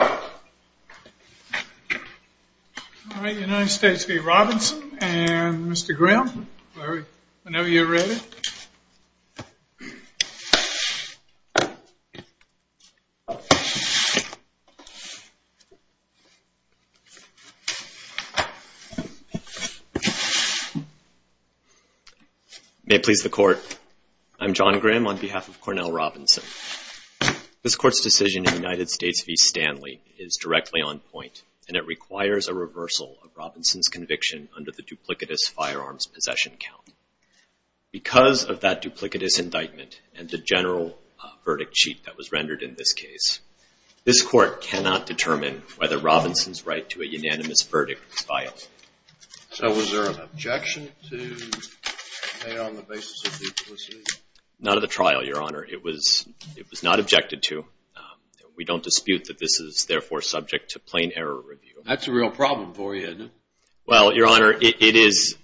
All right, United States v. Robinson and Mr. Graham, whenever you're ready. May it please the court, I'm John Graham on behalf of Cornell Robinson. This court's decision in United States v. Stanley is directly on point and it requires a reversal of Robinson's conviction under the duplicitous firearms possession count. Because of that duplicitous indictment and the general verdict sheet that was rendered in this case, this court cannot determine whether Robinson's right to a unanimous verdict is viable. So was there an objection to pay on the basis of duplicity? None of the trial, Your Honor. It was not objected to. We don't dispute that this is therefore subject to plain error review. That's a real problem for you, isn't it? Well, Your Honor, it is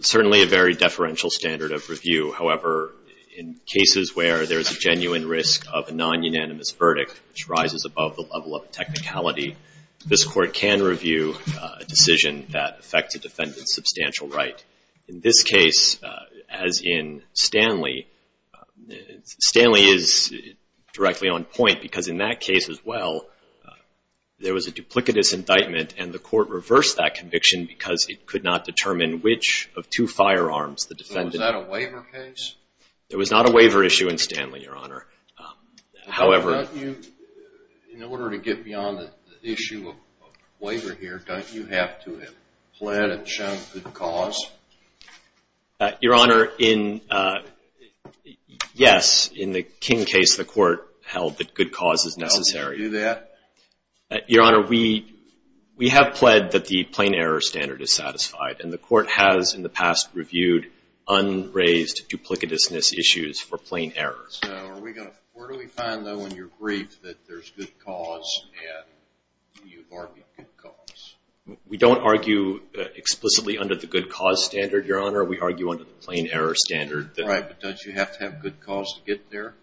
certainly a very deferential standard of review. However, in cases where there's a genuine risk of a non-unanimous verdict which rises above the level of technicality, this court can review a decision that affects a defendant's substantial right. In this case, as in Stanley, Stanley is directly on point because in that case as well, there was a duplicitous indictment and the court reversed that conviction because it could not determine which of two firearms the defendant... So was that a waiver case? There was not a waiver issue in Stanley, Your Honor. However... In order to get beyond the issue of waiver here, don't you have to have planned and shown good cause? Your Honor, yes. In the King case, the court held that good cause is necessary. Now, do you do that? Your Honor, we have pled that the plain error standard is satisfied and the court has, in the past, reviewed unraised duplicitousness issues for plain error. Now, where do we find, though, in your brief that there's good cause and you've argued good cause? We don't argue explicitly under the good cause standard, Your Honor. We argue under the plain error standard. Right, but don't you have to have good cause to get there?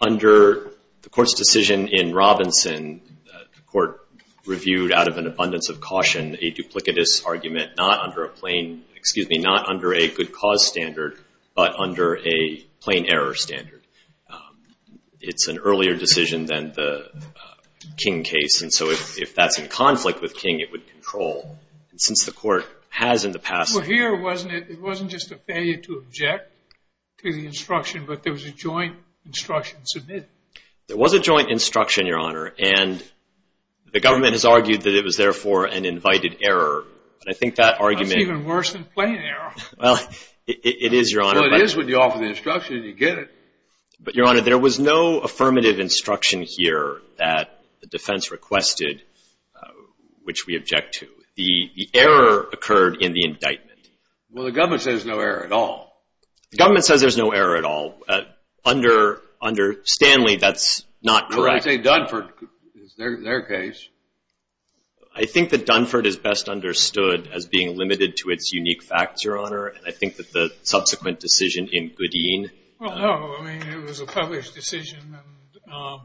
Under the court's decision in Robinson, the court reviewed, out of an abundance of caution, a duplicitous argument not under a good cause standard, but under a plain error standard. It's an earlier decision than the King case, and so if that's in conflict with King, it would control. Since the court has, in the past... It wasn't just a failure to object to the instruction, but there was a joint instruction submitted. There was a joint instruction, Your Honor, and the government has argued that it was therefore an invited error, but I think that argument... That's even worse than plain error. Well, it is, Your Honor. Well, it is when you offer the instruction and you get it. But, Your Honor, there was no affirmative instruction here that the defense requested, which we object to. The error occurred in the indictment. Well, the government says there's no error at all. The government says there's no error at all. Under Stanley, that's not correct. I would say Dunford is their case. I think that Dunford is best understood as being limited to its unique facts, Your Honor, and I think that the subsequent decision in Goodeen... No, I mean, it was a published decision and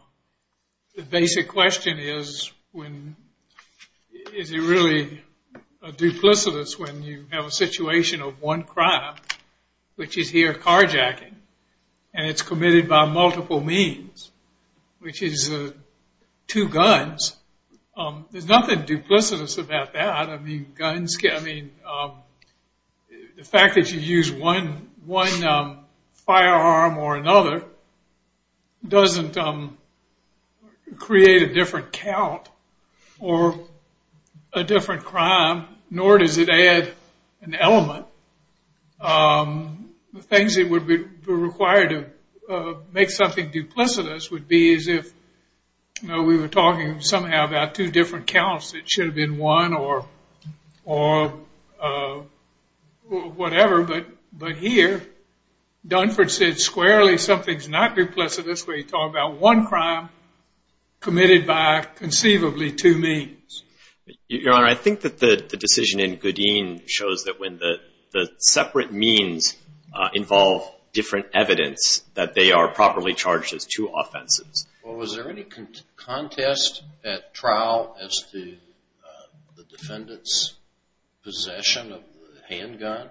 the basic question is, is it really duplicitous when you have a situation of one crime, which is here carjacking, and it's committed by multiple means, which is two guns. There's nothing duplicitous about that. I mean, the fact that you use one firearm or another doesn't create a different count or a different crime, nor does it add an element. The things that would be required to make something duplicitous would be as if we were talking somehow about two different counts. It should have been one or whatever, but here, Dunford said squarely something's not duplicitous when you talk about one crime committed by conceivably two means. Your Honor, I think that the decision in Goodeen shows that when the separate means involve different evidence, that they are properly charged as two offenses. Well, was there any contest at trial as to the defendant's possession of the handgun?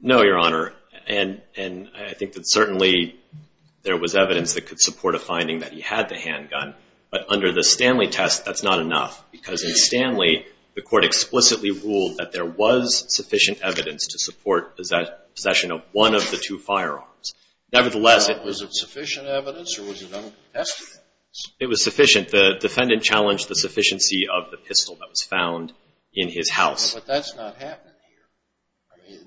No, Your Honor, and I think that certainly there was evidence that could support a finding that he had the handgun, but under the Stanley test, that's not enough because in Stanley, the court explicitly ruled that there was sufficient evidence to support possession of one of the two firearms. Nevertheless, was it sufficient evidence or was it uncontested evidence? It was sufficient. The defendant challenged the sufficiency of the pistol that was found in his house. But that's not happening here.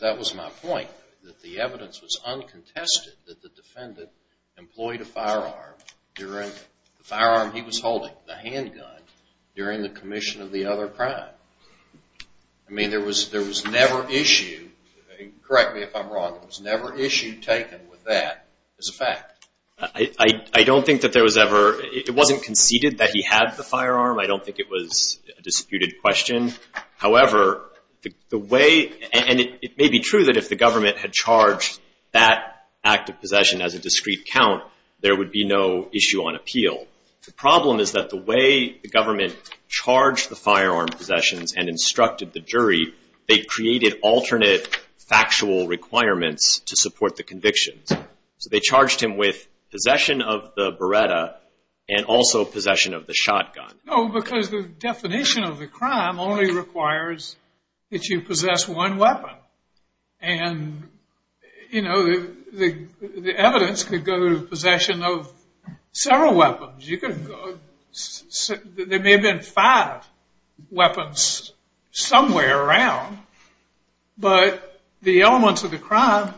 That was my point, that the evidence was uncontested that the defendant employed a firearm during the firearm he was holding, the handgun, during the commission of the other crime. I mean, there was never issued, correct me if I'm wrong, there was never issue taken with that as a fact. I don't think that there was ever, it wasn't conceded that he had the firearm. I don't think it was a disputed question. However, the way, and it may be true that if the government had charged that act of possession as a discrete count, there would be no issue on appeal. The problem is that the way the government charged the firearm possessions and instructed the jury, they created alternate factual requirements to support the convictions. So they charged him with possession of the Beretta and also possession of the shotgun. No, because the definition of the crime only requires that you possess one weapon. And, you know, the evidence could go to possession of several weapons. You could, there may have been five weapons somewhere around, but the elements of the crime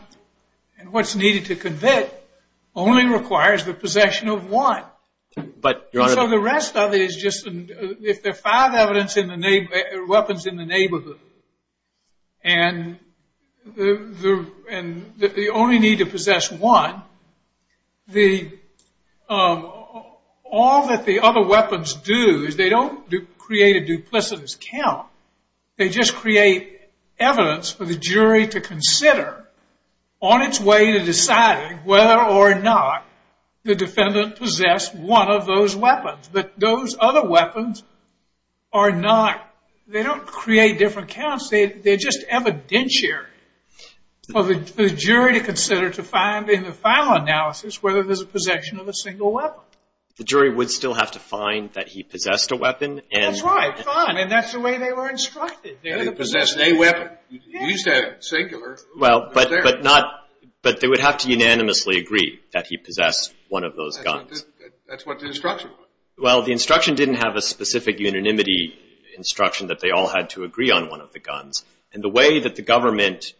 and what's needed to convict only requires the possession of one. But the rest of it is just, if there are five weapons in the neighborhood and the only need to possess one, all that the other weapons do is they don't create a duplicitous count. They just create evidence for the jury to consider on its way to deciding whether or not the defendant possessed one of those weapons. But those other weapons are not, they don't create different counts. They're just evidentiary for the jury to consider to find in the final analysis whether there's a possession of a single weapon. The jury would still have to find that he possessed a weapon. That's right. Fine. And that's the way they were instructed. Yeah, he possessed a weapon. He used to have a singular. Well, but they would have to unanimously agree that he possessed one of those guns. That's what the instruction was. Well, the instruction didn't have a specific unanimity instruction that they all had to agree on one of the guns. And the way that the government,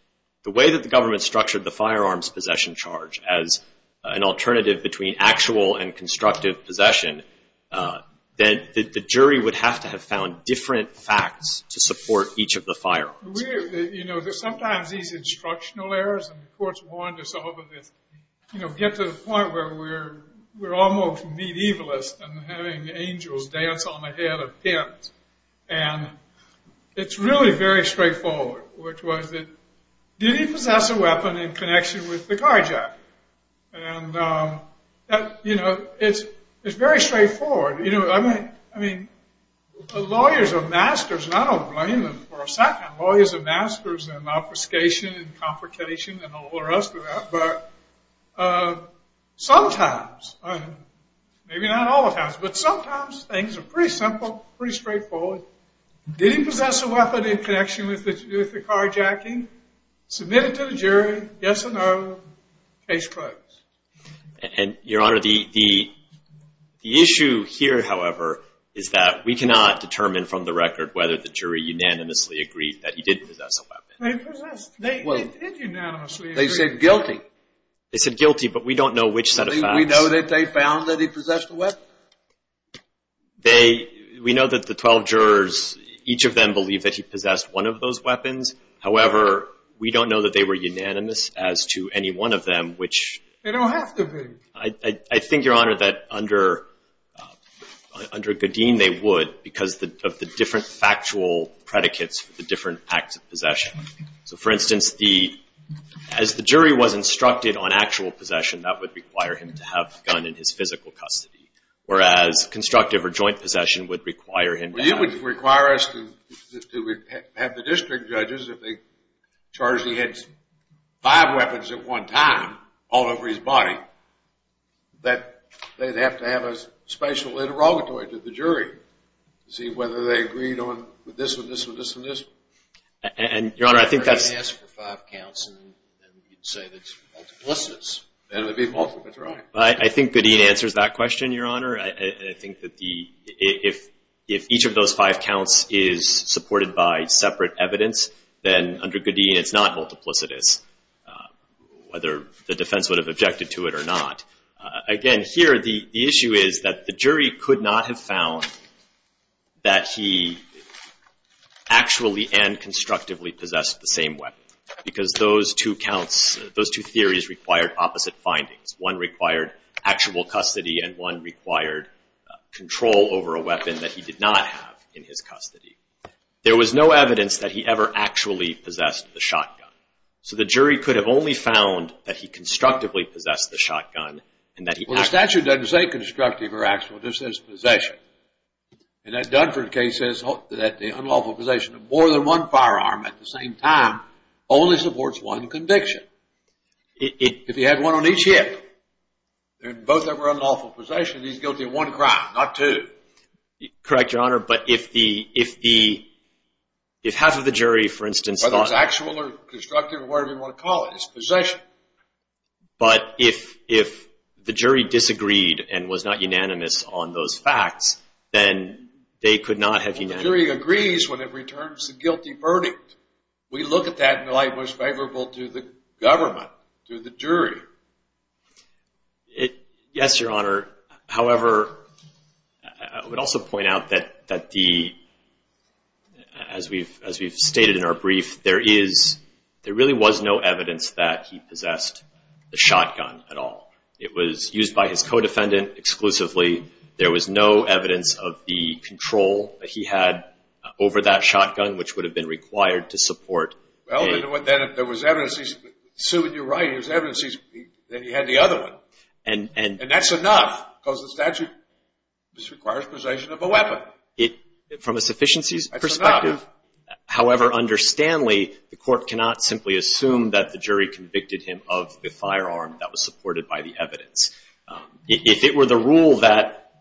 the way that the government structured the firearms possession charge as an alternative between actual and constructive possession, then the jury would have to have found different facts to support each of the firearms. You know, there's sometimes these instructional errors, and the courts warned us over this, you know, get to the point where we're almost medievalist and having angels dance on the head of pimps. And it's really very straightforward, which was that, did he possess a weapon in connection with the carjacker? And, you know, it's very straightforward. You know, I mean, lawyers are masters, and I don't blame them for a second. Lawyers are masters in obfuscation and complication and all the rest of that. But sometimes, maybe not all the times, but sometimes things are pretty simple, pretty straightforward. Did he possess a weapon in connection with the carjacking? Submit it to the jury. Yes or no. Case closed. And, Your Honor, the issue here, however, is that we cannot determine from the record whether the jury unanimously agreed that he did possess a weapon. They possessed. They did unanimously agree. They said guilty. They said guilty, but we don't know which set of facts. We know that they found that he possessed a weapon. They, we know that the 12 jurors, each of them believe that he possessed one of those weapons. However, we don't know that they were unanimous as to any one of them, which. They don't have to be. I think, Your Honor, that under Gaudin, they would because of the different factual predicates for the different acts of possession. So, for instance, the, as the jury was instructed on actual possession, that would require him to have a gun in his physical custody, whereas constructive or joint possession would require him. Well, you would require us to have the district judges, if they charged he had five weapons at one time all over his body, that they'd have to have a special interrogatory to the jury to see whether they agreed on this one, this one, this one, this one. And, Your Honor, I think that's. If they asked for five counts and you'd say that's multiplicitous, then it would be multiplicitous, right? I think Gaudin answers that question, Your Honor. I think that the, if each of those five counts is supported by separate evidence, then under Gaudin, it's not multiplicitous, whether the defense would have objected to it or not. Again, here, the issue is that the jury could not have found that he actually and constructively possessed the same weapon, because those two counts, those two theories required opposite findings. One required actual custody and one required control over a weapon that he did not have in his custody. So the jury could have only found that he constructively possessed the shotgun and that he. The statute doesn't say constructive or actual. It just says possession. And that Dunford case says that the unlawful possession of more than one firearm at the same time only supports one conviction. If he had one on each hip, and both of them were unlawful possession, he's guilty of one crime, not two. Correct, Your Honor. But if the, if half of the jury, for instance. Whether it's actual or constructive or whatever you want to call it, it's possession. But if, if the jury disagreed and was not unanimous on those facts, then they could not have. The jury agrees when it returns the guilty verdict. We look at that in the light most favorable to the government, to the jury. Yes, Your Honor. However, I would also point out that, that the, as we've, as we've stated in our brief, there is, there really was no evidence that he possessed the shotgun at all. It was used by his co-defendant exclusively. There was no evidence of the control that he had over that shotgun, which would have been required to support. Well, then if there was evidence, Sue, you're right. If there was evidence, then he had the other one. And, and. And that's enough because the statute requires possession of a weapon. It, from a sufficiency perspective. However, under Stanley, the court cannot simply assume that the jury convicted him of the firearm that was supported by the evidence. If it were the rule that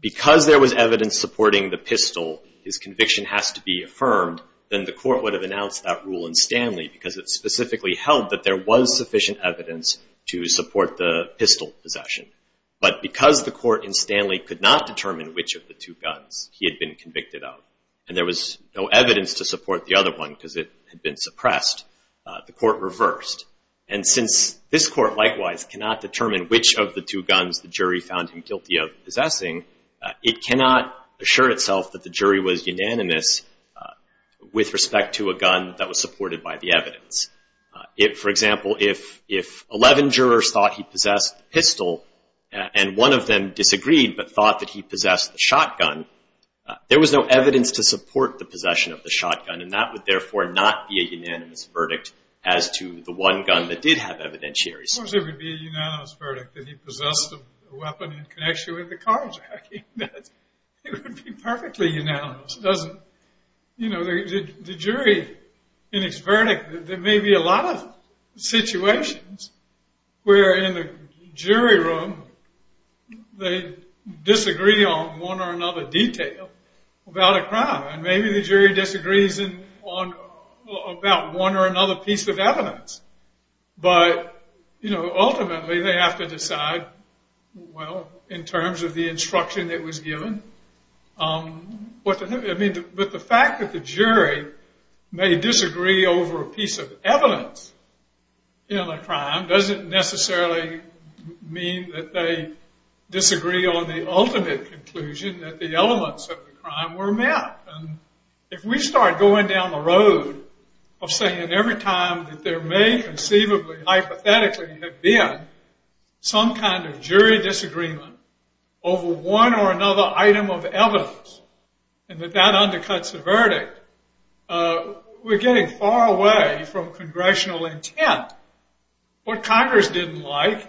because there was evidence supporting the pistol, his conviction has to be affirmed, then the court would have announced that rule in Stanley because it specifically held that there was sufficient evidence to support the pistol possession. But because the court in Stanley could not determine which of the two guns he had been convicted of, and there was no evidence to support the other one because it had been suppressed, the court reversed. And since this court likewise cannot determine which of the two guns the jury found him guilty of possessing, it cannot assure itself that the jury was unanimous with respect to a gun that was supported by the evidence. For example, if, if 11 jurors thought he possessed the pistol, and one of them disagreed but thought that he possessed the shotgun, there was no evidence to support the possession of the shotgun. And that would therefore not be a unanimous verdict as to the one gun that did have evidentiaries. Of course, it would be a unanimous verdict that he possessed a weapon in connection with the carjacking. It would be perfectly unanimous. Doesn't, you know, the jury in its verdict, there may be a lot of situations where in the jury room they disagree on one or another detail about a crime. And maybe the jury disagrees on about one or another piece of evidence. But, you know, ultimately they have to decide, well, in terms of the But the fact that the jury may disagree over a piece of evidence in a crime doesn't necessarily mean that they disagree on the ultimate conclusion that the elements of the crime were met. And if we start going down the road of saying every time that there may conceivably, hypothetically have been some kind of jury disagreement over one or another item of evidence and that that undercuts the verdict, we're getting far away from congressional intent. What Congress didn't like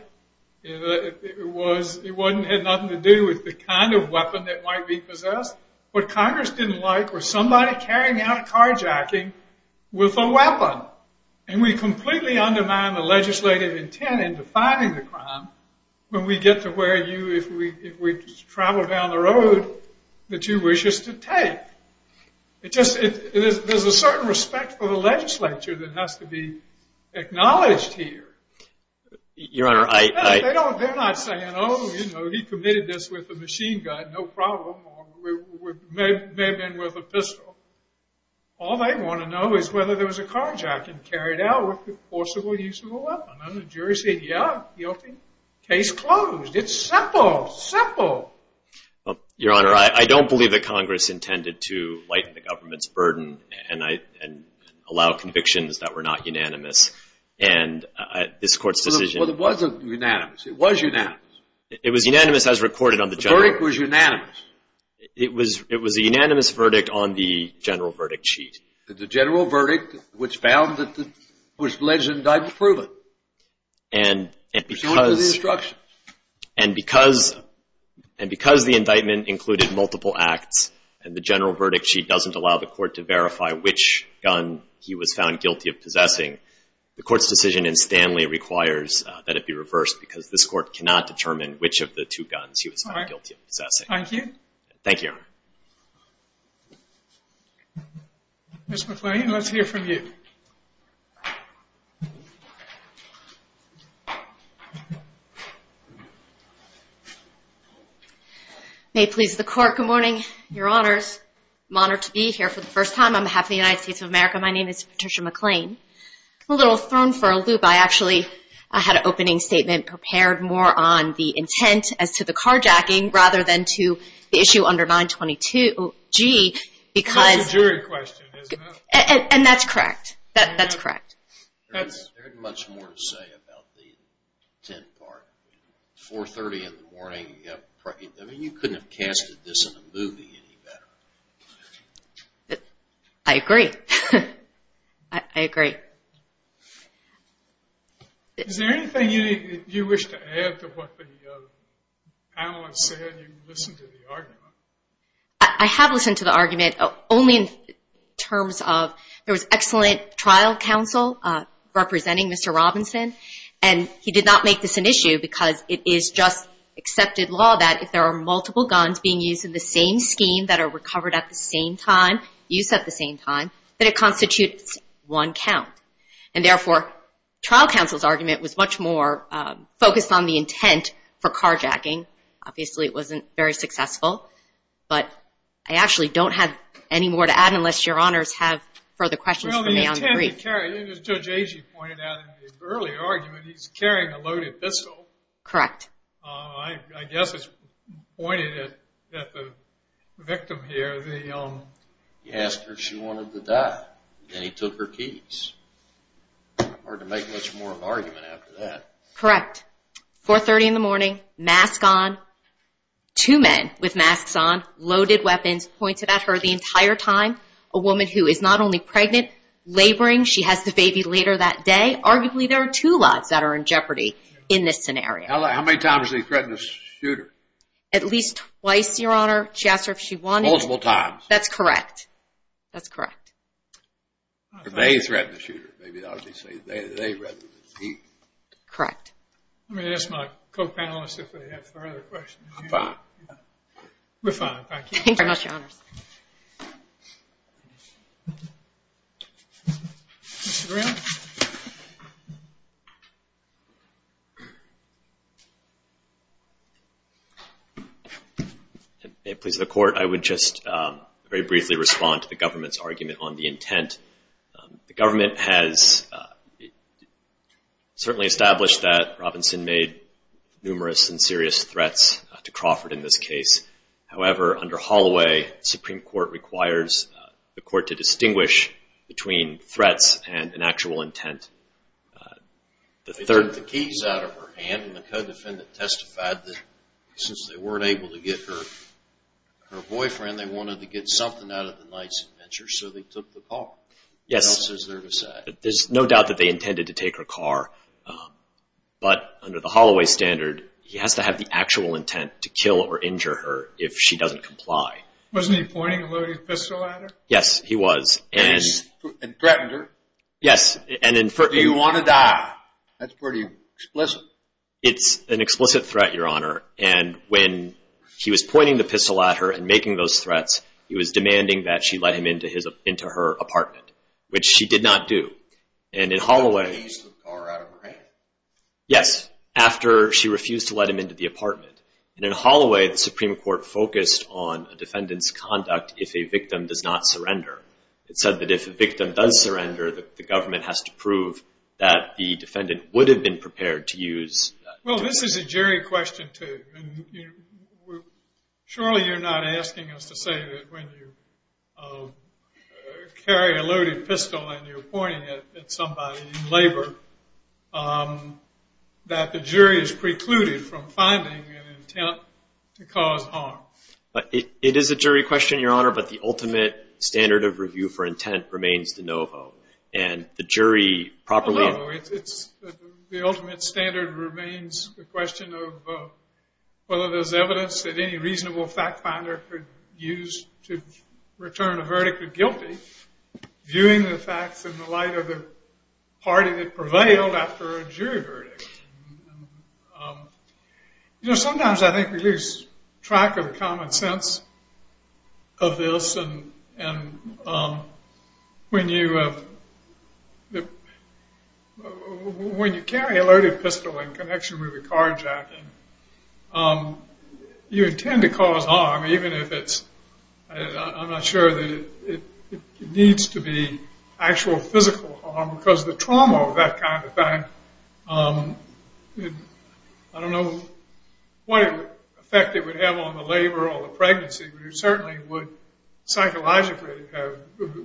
was it had nothing to do with the kind of weapon that might be possessed. What Congress didn't like was somebody carrying out a carjacking with a weapon. And we completely undermine the legislative intent in defining the crime when we get to where you, if we travel down the road, that you wish us to take. It just, there's a certain respect for the legislature that has to be acknowledged here. They're not saying, oh, you know, he committed this with a machine gun, no problem, or it may have been with a pistol. All they want to know is whether there was a carjacking carried out with a forcible use of a weapon. And the jury said, yeah, guilty. Case closed. It's simple, simple. Your Honor, I don't believe that Congress intended to lighten the government's burden and allow convictions that were not unanimous. And this Court's decision- Well, it wasn't unanimous. It was unanimous. It was unanimous as recorded on the- The verdict was unanimous. It was a unanimous verdict on the general verdict sheet. The general verdict, which found that it was alleged and indicted to prove it. And because- It was going to the instructions. And because the indictment included multiple acts, and the general verdict sheet doesn't allow the Court to verify which gun he was found guilty of possessing, the Court's decision in Stanley requires that it be reversed because this Court cannot determine which of the two guns he was found guilty of possessing. Thank you. Thank you, Your Honor. Ms. McClain, let's hear from you. May it please the Court, good morning. Your Honors, I'm honored to be here for the first time. On behalf of the United States of America, my name is Patricia McClain. I'm a little thrown for a loop. I actually, I had an opening statement prepared more on the intent as to the carjacking rather than to the issue under 922G because- It's a jury question, isn't it? And that's correct. That's correct. There's much more to say about the intent part. 430 in the morning, you couldn't have casted this in a movie any better. I agree. I agree. Is there anything you wish to add to what the panelist said? You listened to the argument. I have listened to the argument only in terms of there was excellent trial counsel representing Mr. Robinson. And he did not make this an issue because it is just accepted law that if there are multiple guns being used in the same scheme that are recovered at the same time, used at the same time, that it constitutes one count. And therefore, trial counsel's argument was much more focused on the intent for carjacking. Obviously, it wasn't very successful. But I actually don't have any more to add unless your honors have further questions for me on the brief. As Judge Agee pointed out in the early argument, he's carrying a loaded pistol. Correct. I guess it's pointed at the victim here. He asked her if she wanted to die. Then he took her keys. Hard to make much more of an argument after that. Correct. 4.30 in the morning, mask on, two men with masks on, loaded weapons pointed at her the entire time. A woman who is not only pregnant, laboring. She has the baby later that day. Arguably, there are two lives that are in jeopardy in this scenario. How many times did he threaten to shoot her? At least twice, your honor. She asked her if she wanted to. Multiple times. That's correct. That's correct. They threatened to shoot her. Maybe that's what he said. They threatened to eat her. Correct. Let me ask my co-panelists if they have further questions. I'm fine. We're fine, thank you. Thank you very much, your honors. Mr. Brown? May it please the court, I would just very briefly respond to the government's argument on the intent. The government has certainly established that Robinson made numerous and serious threats to Crawford in this case. However, under Holloway, the Supreme Court requires the court to distinguish between threats and an actual intent. They took the keys out of her hand, and the co-defendant testified that since they weren't able to get her boyfriend, they wanted to get something out of the car. Yes. There's no doubt that they intended to take her car, but under the Holloway standard, he has to have the actual intent to kill or injure her if she doesn't comply. Wasn't he pointing a loaded pistol at her? Yes, he was. And threatened her? Yes. And inferred. Do you want to die? That's pretty explicit. It's an explicit threat, your honor. And when he was pointing the pistol at her and making those threats, he was which she did not do. And in Holloway- He used the car out of her hand? Yes. After she refused to let him into the apartment. And in Holloway, the Supreme Court focused on a defendant's conduct if a victim does not surrender. It said that if a victim does surrender, the government has to prove that the defendant would have been prepared to use- Well, this is a jury question, too. And surely you're not asking us to say that when you carry a loaded pistol and you're pointing it at somebody in labor that the jury is precluded from finding an intent to cause harm. It is a jury question, your honor, but the ultimate standard of review for intent remains de novo. And the jury properly- The ultimate standard remains the question of whether there's evidence that any reasonable fact finder could use to return a verdict of guilty, viewing the facts in the light of the party that prevailed after a jury verdict. Sometimes I think we lose track of the common sense of this. And when you have- When you carry a loaded pistol in connection with a carjacking, you intend to cause harm, even if it's- I'm not sure that it needs to be actual physical harm, because the trauma of that kind of thing, I don't know what effect it would have on the labor or the pregnancy, but it certainly would psychologically have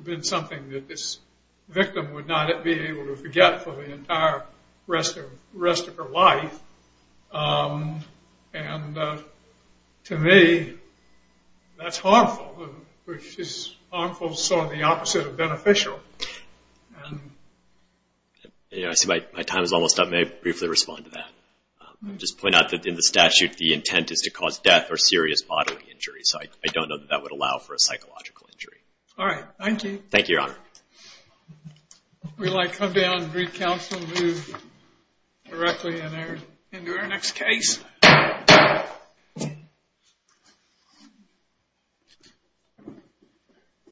been something that this victim would not be able to forget for the entire rest of her life. And to me, that's harmful, which is harmful to the opposite of beneficial. I see my time is almost up. May I briefly respond to that? Just point out that in the statute, the intent is to cause death or serious bodily injury. So I don't know that that would allow for a psychological injury. All right. Thank you. Thank you, Your Honor. Would you like to come down and read counsel and move directly into our next case?